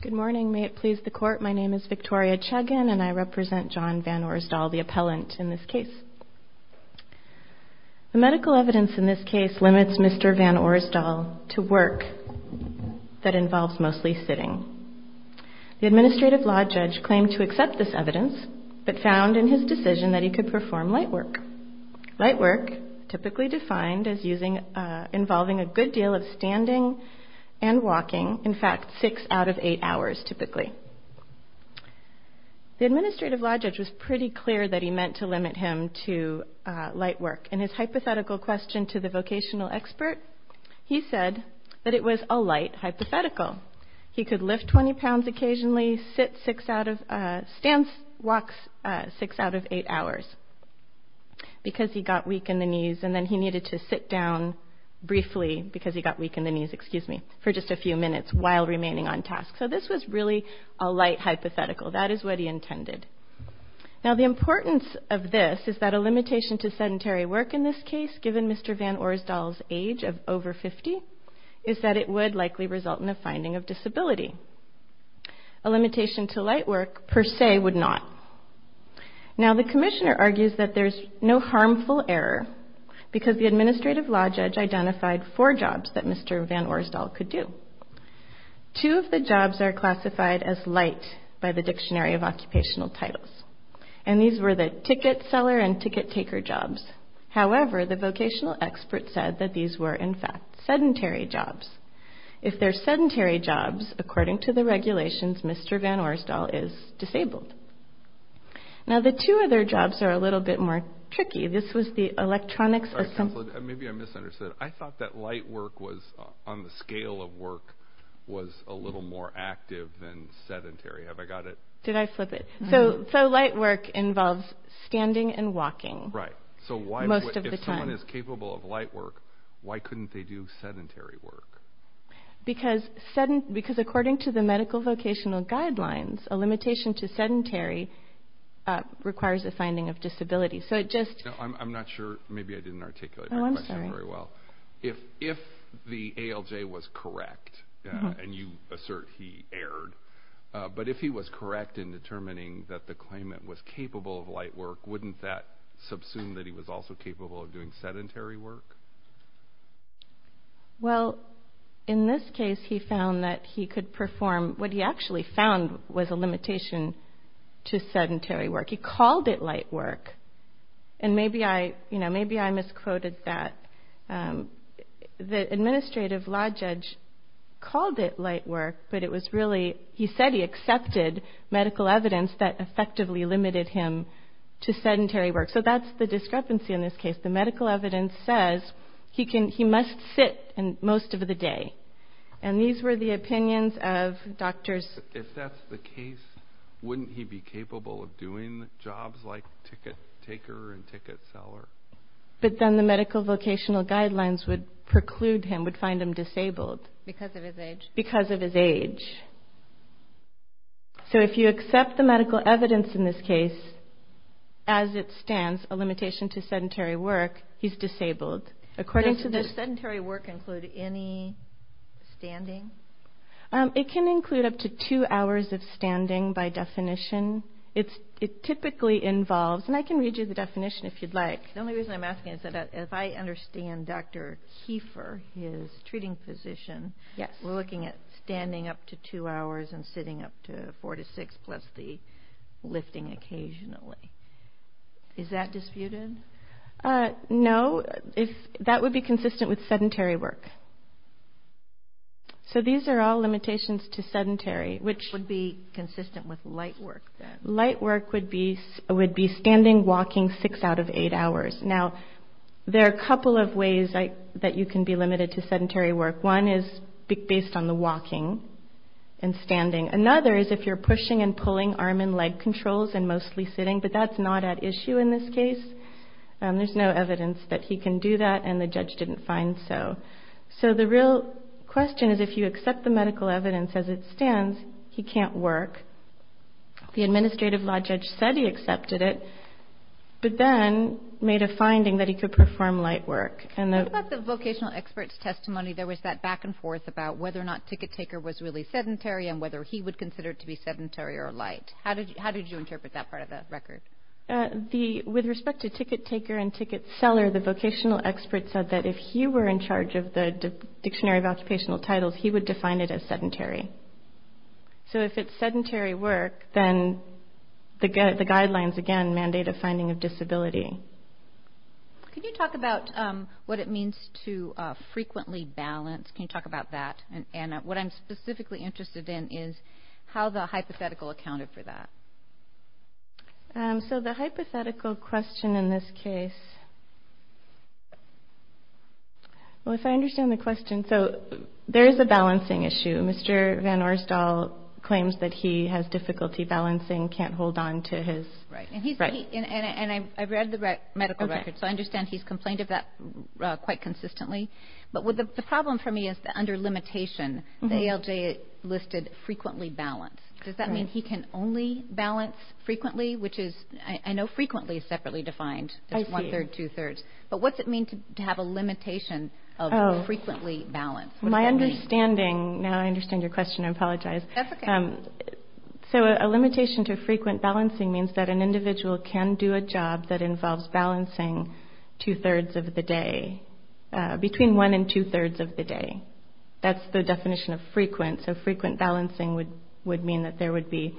Good morning, may it please the court. My name is Victoria Chagin and I represent John Van Orsdol, the appellant in this case. The medical evidence in this case limits Mr. Van Orsdol to work that involves mostly sitting. The administrative law judge claimed to accept this evidence, but found in his decision that he could perform light work. Light work, typically defined as involving a good deal of standing and walking, in fact six out of eight hours typically. The administrative law judge was pretty clear that he meant to limit him to light work. In his hypothetical question to the vocational expert, he said that it was a light hypothetical. He could lift 20 pounds occasionally, sit six out of, stand, walk six out of eight hours because he got weak in the knees, and then he needed to sit down briefly because he got weak in the knees, excuse me, for just a few minutes while remaining on task. So this was really a light hypothetical. That is what he intended. Now the importance of this is that a limitation to sedentary work in this case, given Mr. Van Orsdol's age of over 50, is that it would likely result in a finding of disability. A limitation to light work, per se, would not. Now the commissioner argues that there's no harmful error because the administrative law judge identified four jobs that Mr. Van Orsdol could do. Two of the jobs are classified as light by the Dictionary of Occupational Titles, and these were the ticket seller and ticket taker jobs. However, the vocational expert said that these were, in fact, sedentary jobs. If they're sedentary jobs, according to the regulations, Mr. Van Orsdol is disabled. Now the two other jobs are a little bit more tricky. This was the electronics... Sorry, counselor, maybe I misunderstood. I thought that light work was, on the scale of work, was a little more active than sedentary. Have I got it? Did I flip it? So light work involves standing and walking. Right. So if someone is capable of light work, why couldn't they do sedentary work? Because according to the medical vocational guidelines, a limitation to sedentary requires a finding of disability. I'm not sure. Maybe I didn't articulate my question very well. Oh, I'm sorry. If the ALJ was correct, and you assert he erred, but if he was correct in determining that the claimant was capable of light work, wouldn't that subsume that he was also capable of doing sedentary work? Well, in this case, he found that he could perform... What he actually found was a limitation to sedentary work. He called it light work. And maybe I misquoted that. The administrative law judge called it light work, but it was really... He said he accepted medical evidence that effectively limited him to sedentary work. So that's the discrepancy in this case. The medical evidence says he must sit most of the day. And these were the opinions of doctors... If that's the case, wouldn't he be capable of doing jobs like ticket taker and ticket seller? But then the medical vocational guidelines would preclude him, would find him disabled. Because of his age. Because of his age. So if you accept the medical evidence in this case, as it stands, a limitation to sedentary work, he's disabled. Does sedentary work include any standing? It can include up to two hours of standing by definition. It typically involves... And I can read you the definition if you'd like. The only reason I'm asking is that if I understand Dr. Kiefer, his treating physician, we're looking at standing up to two hours and sitting up to four to six plus the lifting occasionally. Is that disputed? No. That would be consistent with sedentary work. So these are all limitations to sedentary, which... Would be consistent with light work, then. Light work would be standing, walking six out of eight hours. Now, there are a couple of ways that you can be limited to sedentary work. One is based on the walking and standing. Another is if you're pushing and pulling arm and leg controls and mostly sitting. But that's not at issue in this case. There's no evidence that he can do that, and the judge didn't find so. So the real question is if you accept the medical evidence as it stands, he can't work. The administrative law judge said he accepted it, but then made a finding that he could perform light work. What about the vocational expert's testimony? There was that back and forth about whether or not ticket taker was really sedentary and whether he would consider it to be sedentary or light. How did you interpret that part of the record? With respect to ticket taker and ticket seller, the vocational expert said that if he were in charge of the Dictionary of Occupational Titles, he would define it as sedentary. So if it's sedentary work, then the guidelines, again, mandate a finding of disability. Can you talk about what it means to frequently balance? Can you talk about that? And what I'm specifically interested in is how the hypothetical accounted for that. So the hypothetical question in this case, well, if I understand the question. So there is a balancing issue. Mr. Van Oerstal claims that he has difficulty balancing, can't hold on to his. Right. And I've read the medical record, so I understand he's complained of that quite consistently. But the problem for me is that under limitation, the ALJ listed frequently balanced. Does that mean he can only balance frequently, which is I know frequently is separately defined as one-third, two-thirds. But what's it mean to have a limitation of frequently balanced? My understanding, now I understand your question, I apologize. That's okay. So a limitation to frequent balancing means that an individual can do a job that involves balancing two-thirds of the day between one and two-thirds of the day. That's the definition of frequent. So frequent balancing would mean that there would be.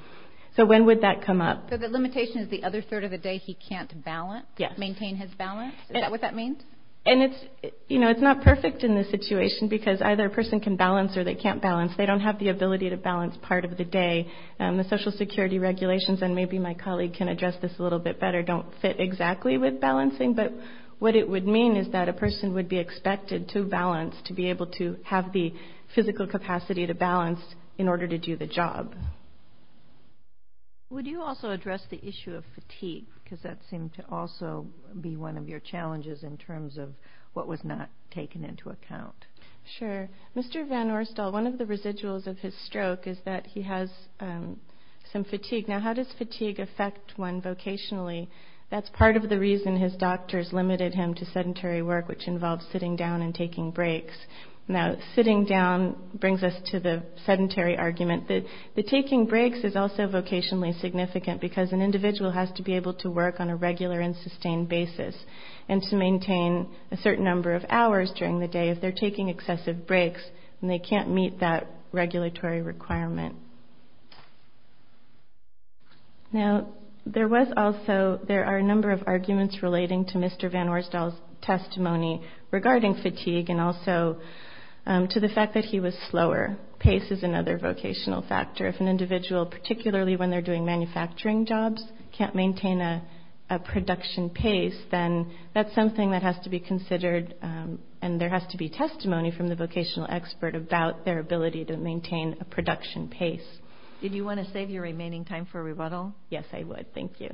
So when would that come up? So the limitation is the other third of the day he can't balance? Yes. Maintain his balance? Is that what that means? And it's, you know, it's not perfect in this situation because either a person can balance or they can't balance. They don't have the ability to balance part of the day. The Social Security regulations, and maybe my colleague can address this a little bit better, don't fit exactly with balancing. But what it would mean is that a person would be expected to balance, to be able to have the physical capacity to balance in order to do the job. Would you also address the issue of fatigue? Because that seemed to also be one of your challenges in terms of what was not taken into account. Sure. Mr. Van Orstel, one of the residuals of his stroke is that he has some fatigue. Now, how does fatigue affect one vocationally? That's part of the reason his doctors limited him to sedentary work, which involves sitting down and taking breaks. Now, sitting down brings us to the sedentary argument. The taking breaks is also vocationally significant because an individual has to be able to work on a regular and sustained basis and to maintain a certain number of hours during the day if they're taking excessive breaks and they can't meet that regulatory requirement. Now, there are a number of arguments relating to Mr. Van Orstel's testimony regarding fatigue and also to the fact that he was slower. Pace is another vocational factor. If an individual, particularly when they're doing manufacturing jobs, can't maintain a production pace, then that's something that has to be considered, and there has to be testimony from the vocational expert about their ability to maintain a production pace. Did you want to save your remaining time for rebuttal? Yes, I would. Thank you.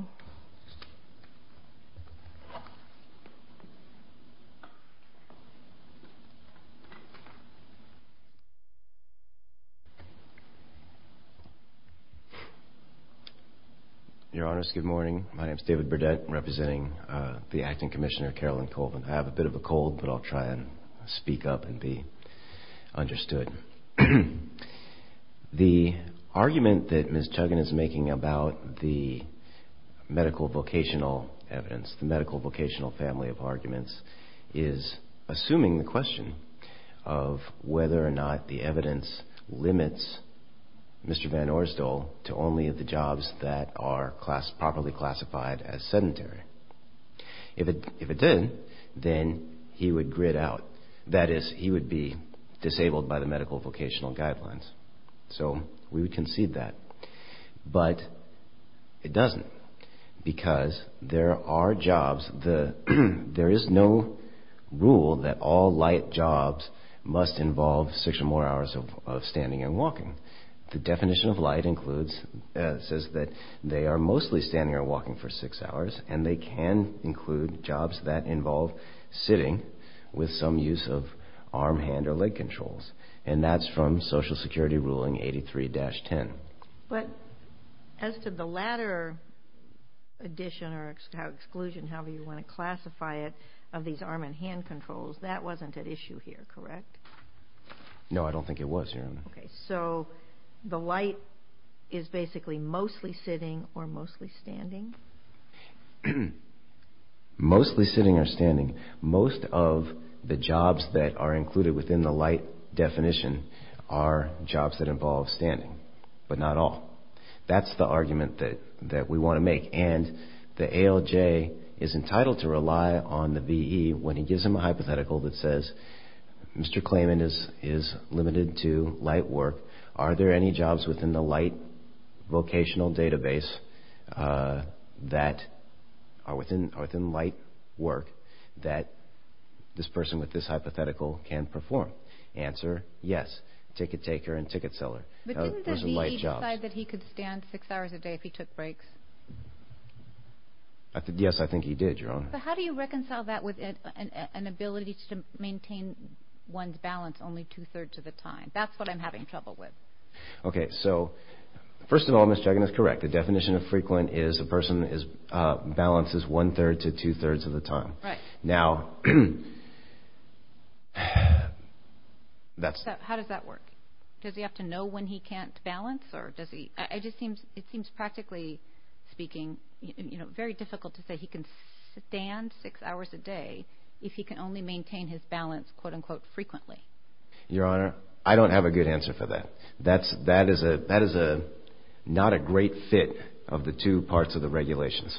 Your Honors, good morning. My name is David Burdett, representing the Acting Commissioner, Carolyn Colvin. I have a bit of a cold, but I'll try and speak up and be understood. The argument that Ms. Chuggin is making about the medical vocational evidence, the medical vocational family of arguments, is assuming the question of whether or not the evidence limits Mr. Van Orstel to only the jobs that are properly classified as sedentary. If it did, then he would grit out. That is, he would be disabled by the medical vocational guidelines. So we would concede that. But it doesn't, because there are jobs. There is no rule that all light jobs must involve six or more hours of standing and walking. The definition of light says that they are mostly standing or walking for six hours, and they can include jobs that involve sitting with some use of arm, hand, or leg controls. And that's from Social Security Ruling 83-10. But as to the latter addition or exclusion, however you want to classify it, of these arm and hand controls, that wasn't at issue here, correct? Okay, so the light is basically mostly sitting or mostly standing? Mostly sitting or standing. Most of the jobs that are included within the light definition are jobs that involve standing, but not all. That's the argument that we want to make. And the ALJ is entitled to rely on the VE when he gives them a hypothetical that says, Mr. Klayman is limited to light work. Are there any jobs within the light vocational database that are within light work that this person with this hypothetical can perform? Answer, yes, ticket taker and ticket seller. But didn't the VE decide that he could stand six hours a day if he took breaks? Yes, I think he did, Your Honor. But how do you reconcile that with an ability to maintain one's balance only two-thirds of the time? That's what I'm having trouble with. Okay, so first of all, Ms. Jagan is correct. The definition of frequent is a person's balance is one-third to two-thirds of the time. Now, that's... How does that work? Does he have to know when he can't balance? It seems, practically speaking, very difficult to say he can stand six hours a day if he can only maintain his balance, quote-unquote, frequently. Your Honor, I don't have a good answer for that. That is not a great fit of the two parts of the regulations.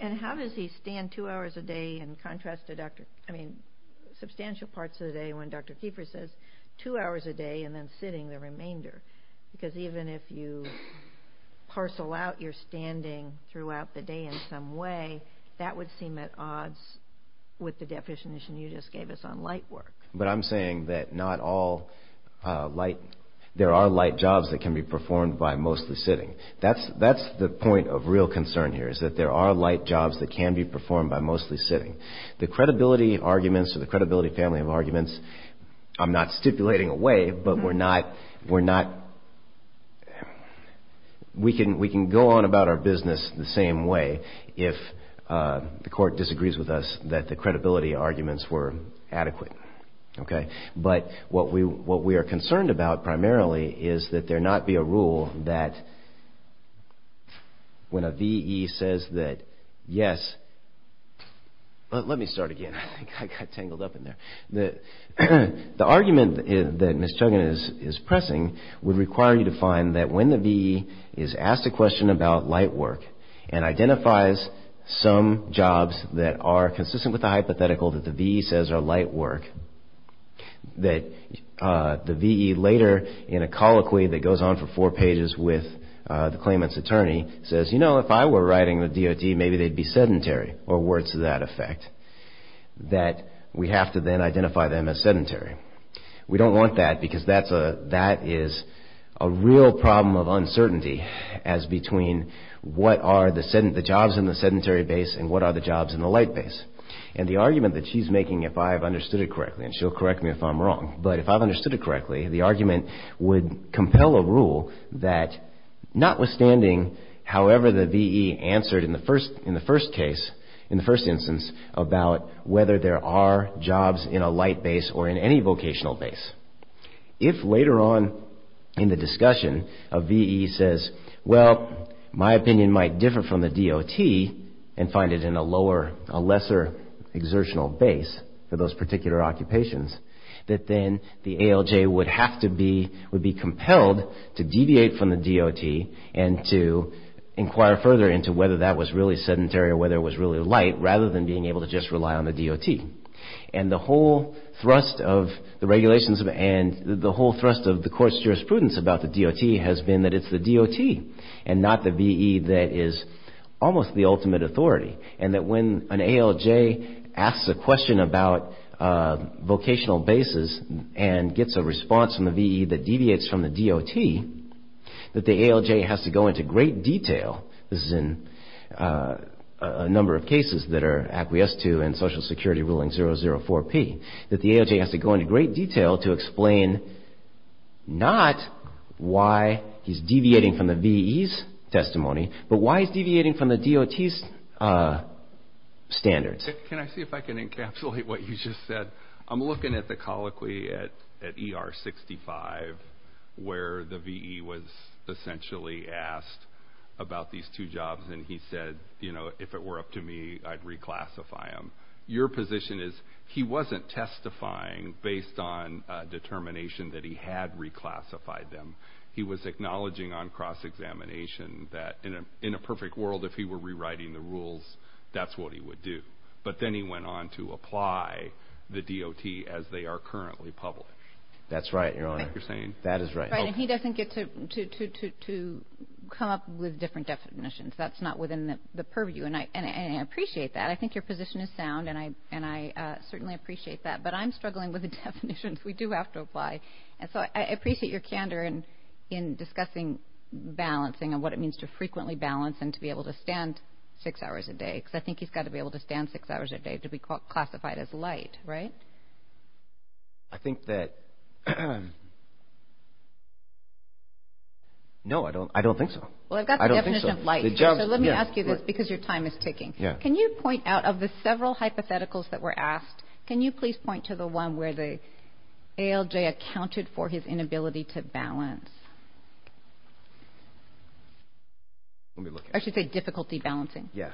And how does he stand two hours a day in contrast to, I mean, substantial parts of the day when Dr. Keefer says two hours a day and then sitting the remainder? Because even if you parcel out your standing throughout the day in some way, that would seem at odds with the definition you just gave us on light work. But I'm saying that not all light... There are light jobs that can be performed by mostly sitting. That's the point of real concern here is that there are light jobs that can be performed by mostly sitting. The credibility arguments or the credibility family of arguments, I'm not stipulating a way, but we're not... We can go on about our business the same way if the court disagrees with us that the credibility arguments were adequate. But what we are concerned about primarily is that there not be a rule that when a VE says that yes... Let me start again. I got tangled up in there. The argument that Ms. Chogan is pressing would require you to find that when the VE is asked a question about light work and identifies some jobs that are consistent with the hypothetical that the VE says are light work, that the VE later in a colloquy that goes on for four pages with the claimant's attorney says, you know, if I were writing the DOD, maybe they'd be sedentary or words to that effect. That we have to then identify them as sedentary. We don't want that because that is a real problem of uncertainty as between what are the jobs in the sedentary base and what are the jobs in the light base. And the argument that she's making, if I've understood it correctly, and she'll correct me if I'm wrong, but if I've understood it correctly, the argument would compel a rule that notwithstanding however the VE answered in the first case, in the first instance, about whether there are jobs in a light base or in any vocational base. If later on in the discussion a VE says, well, my opinion might differ from the DOT and find it in a lesser exertional base for those particular occupations, that then the ALJ would have to be compelled to deviate from the DOT and to inquire further into whether that was really sedentary or whether it was really light rather than being able to just rely on the DOT. And the whole thrust of the regulations and the whole thrust of the court's jurisprudence about the DOT has been that it's the DOT and not the VE that is almost the ultimate authority. And that when an ALJ asks a question about vocational bases and gets a response from the VE that deviates from the DOT, that the ALJ has to go into great detail. This is in a number of cases that are acquiesced to in Social Security Ruling 004P. That the ALJ has to go into great detail to explain not why he's deviating from the VE's testimony, but why he's deviating from the DOT's standards. Can I see if I can encapsulate what you just said? I'm looking at the colloquy at ER 65 where the VE was essentially asked about these two jobs, and he said, you know, if it were up to me, I'd reclassify them. Your position is he wasn't testifying based on determination that he had reclassified them. He was acknowledging on cross-examination that in a perfect world, if he were rewriting the rules, that's what he would do. But then he went on to apply the DOT as they are currently published. That's right, Your Honor. That is right. And he doesn't get to come up with different definitions. That's not within the purview, and I appreciate that. I think your position is sound, and I certainly appreciate that. But I'm struggling with the definitions. We do have to apply. And so I appreciate your candor in discussing balancing and what it means to frequently balance and to be able to stand six hours a day because I think he's got to be able to stand six hours a day to be classified as light, right? I think that, no, I don't think so. Well, I've got the definition of light. So let me ask you this because your time is ticking. Can you point out of the several hypotheticals that were asked, can you please point to the one where the ALJ accounted for his inability to balance? I should say difficulty balancing. Yes.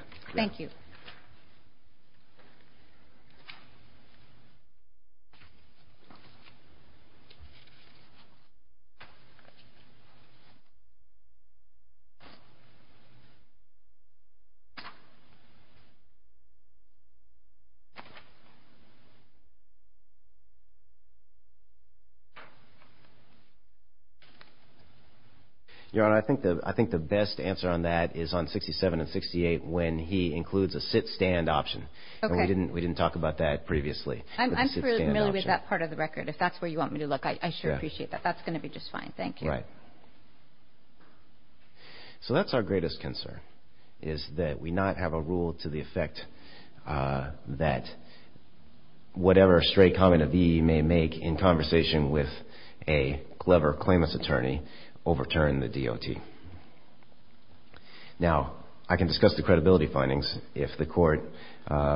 Your Honor, I think the best answer on that is on 67 and 68 when he includes a sit-stand option. Okay. And we didn't talk about that previously. I'm familiar with that part of the record. If that's where you want me to look, I sure appreciate that. That's going to be just fine. Thank you. Right. So that's our greatest concern is that we not have a rule to the effect that whatever stray comment a VE may make in conversation with a clever claimant's attorney overturn the DOT. Now, I can discuss the credibility findings if the court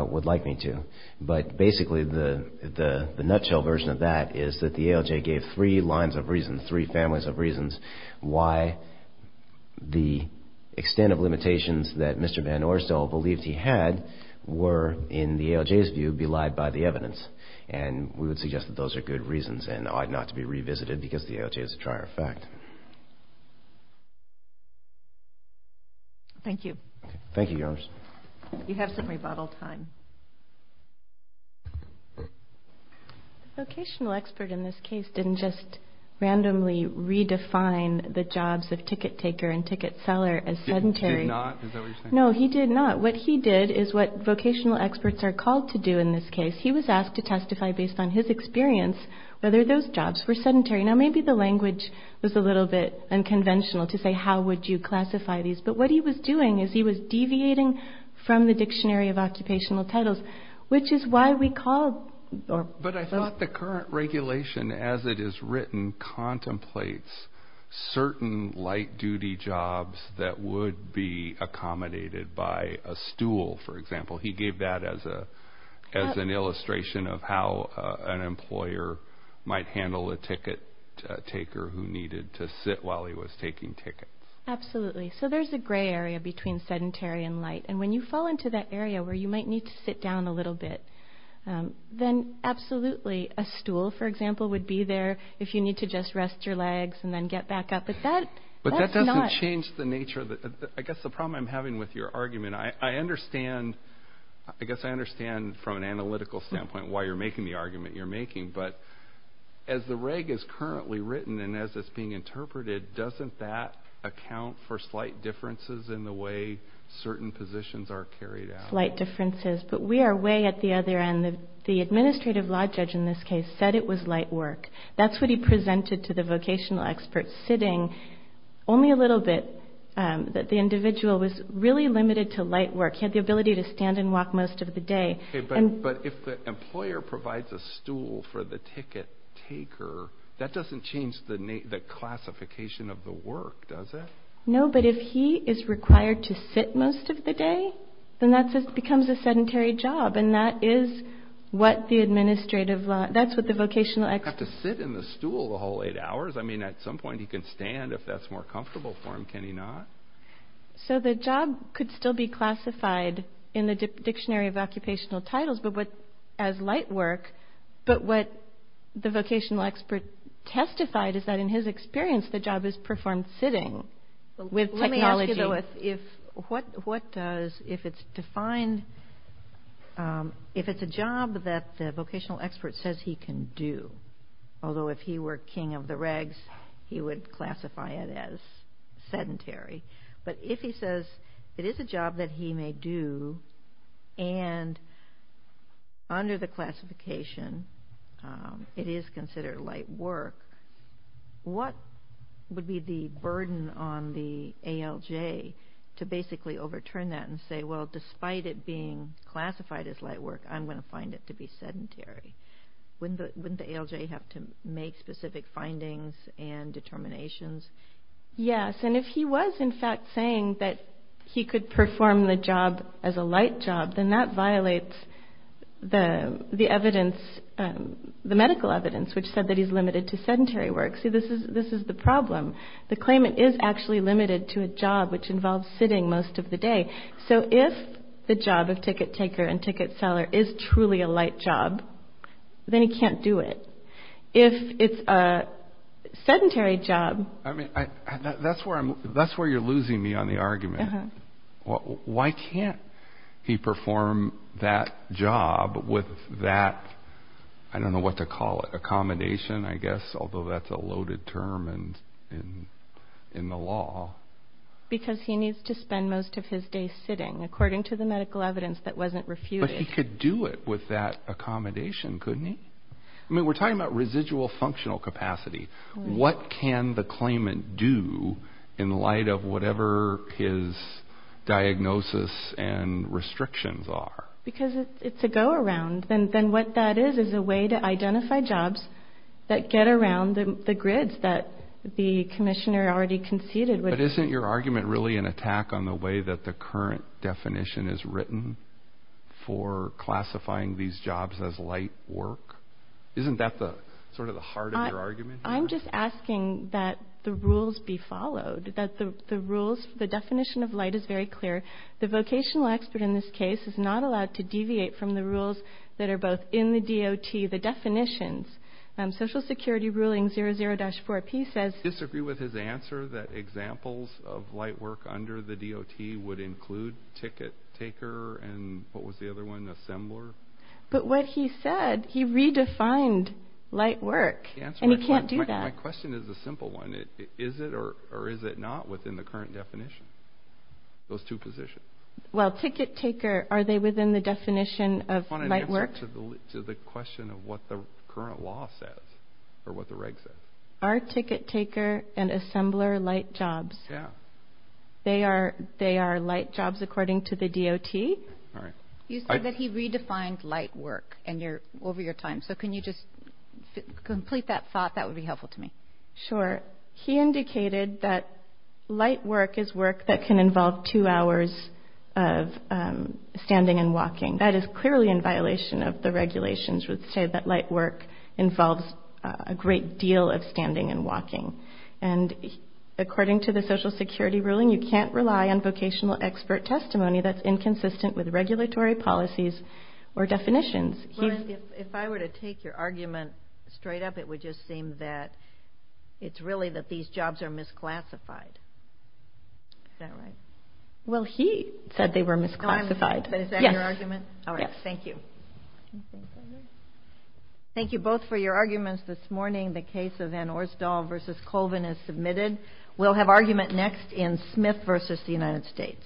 would like me to, but basically the nutshell version of that is that the ALJ gave three lines of reason, three families of reasons why the extent of limitations that Mr. Van Orsdale believed he had were, in the ALJ's view, belied by the evidence. And we would suggest that those are good reasons and ought not to be revisited because the ALJ is a trier of fact. Thank you. Thank you, Your Honor. You have some rebuttal time. The vocational expert in this case didn't just randomly redefine the jobs of ticket taker and ticket seller as sedentary. He did not? Is that what you're saying? No, he did not. What he did is what vocational experts are called to do in this case. He was asked to testify based on his experience whether those jobs were sedentary. Now, maybe the language was a little bit unconventional to say how would you classify these, but what he was doing is he was deviating from the Dictionary of Occupational Titles, which is why we called. But I thought the current regulation as it is written contemplates certain light duty jobs that would be accommodated by a stool, for example. He gave that as an illustration of how an employer might handle a ticket taker who needed to sit while he was taking tickets. Absolutely. So there's a gray area between sedentary and light, and when you fall into that area where you might need to sit down a little bit, then absolutely. A stool, for example, would be there if you need to just rest your legs and then get back up. But that doesn't change the nature of the problem I'm having with your argument. I guess I understand from an analytical standpoint why you're making the argument you're making, but as the reg is currently written and as it's being interpreted, doesn't that account for slight differences in the way certain positions are carried out? Slight differences. But we are way at the other end. The administrative law judge in this case said it was light work. That's what he presented to the vocational experts, sitting only a little bit. The individual was really limited to light work. He had the ability to stand and walk most of the day. Okay, but if the employer provides a stool for the ticket taker, that doesn't change the classification of the work, does it? No, but if he is required to sit most of the day, then that becomes a sedentary job, and that is what the administrative law – that's what the vocational experts – He doesn't have to sit in the stool the whole eight hours. I mean, at some point he can stand if that's more comfortable for him, can he not? So the job could still be classified in the Dictionary of Occupational Titles as light work, but what the vocational expert testified is that in his experience, the job is performed sitting with technology. Let me ask you, though, if it's a job that the vocational expert says he can do, although if he were king of the regs, he would classify it as sedentary, but if he says it is a job that he may do and under the classification it is considered light work, what would be the burden on the ALJ to basically overturn that and say, well, despite it being classified as light work, I'm going to find it to be sedentary? Wouldn't the ALJ have to make specific findings and determinations? Yes, and if he was, in fact, saying that he could perform the job as a light job, then that violates the medical evidence, which said that he's limited to sedentary work. See, this is the problem. The claimant is actually limited to a job which involves sitting most of the day. So if the job of ticket taker and ticket seller is truly a light job, then he can't do it. If it's a sedentary job. I mean, that's where you're losing me on the argument. Why can't he perform that job with that, I don't know what to call it, accommodation, I guess, although that's a loaded term in the law. Because he needs to spend most of his day sitting, according to the medical evidence that wasn't refuted. But he could do it with that accommodation, couldn't he? I mean, we're talking about residual functional capacity. What can the claimant do in light of whatever his diagnosis and restrictions are? Because it's a go around. Then what that is is a way to identify jobs that get around the grids that the commissioner already conceded. But isn't your argument really an attack on the way that the current definition is written for classifying these jobs as light work? Isn't that sort of the heart of your argument? I'm just asking that the rules be followed, that the rules, the definition of light is very clear. The vocational expert in this case is not allowed to deviate from the rules that are both in the DOT, the definitions. Social Security ruling 00-4P says- Do you disagree with his answer that examples of light work under the DOT would include ticket taker and what was the other one, assembler? But what he said, he redefined light work, and he can't do that. My question is a simple one. Is it or is it not within the current definition, those two positions? Well, ticket taker, are they within the definition of light work? Answer to the question of what the current law says or what the reg says. Are ticket taker and assembler light jobs? Yeah. They are light jobs according to the DOT? All right. You said that he redefined light work over your time, so can you just complete that thought? That would be helpful to me. Sure. He indicated that light work is work that can involve two hours of standing and walking. That is clearly in violation of the regulations, which say that light work involves a great deal of standing and walking. And according to the Social Security ruling, you can't rely on vocational expert testimony that's inconsistent with regulatory policies or definitions. If I were to take your argument straight up, it would just seem that it's really that these jobs are misclassified. Is that right? Well, he said they were misclassified. But is that your argument? Yes. All right. Thank you. Thank you both for your arguments this morning. The case of Van Orsdaal v. Colvin is submitted. We'll have argument next in Smith v. the United States.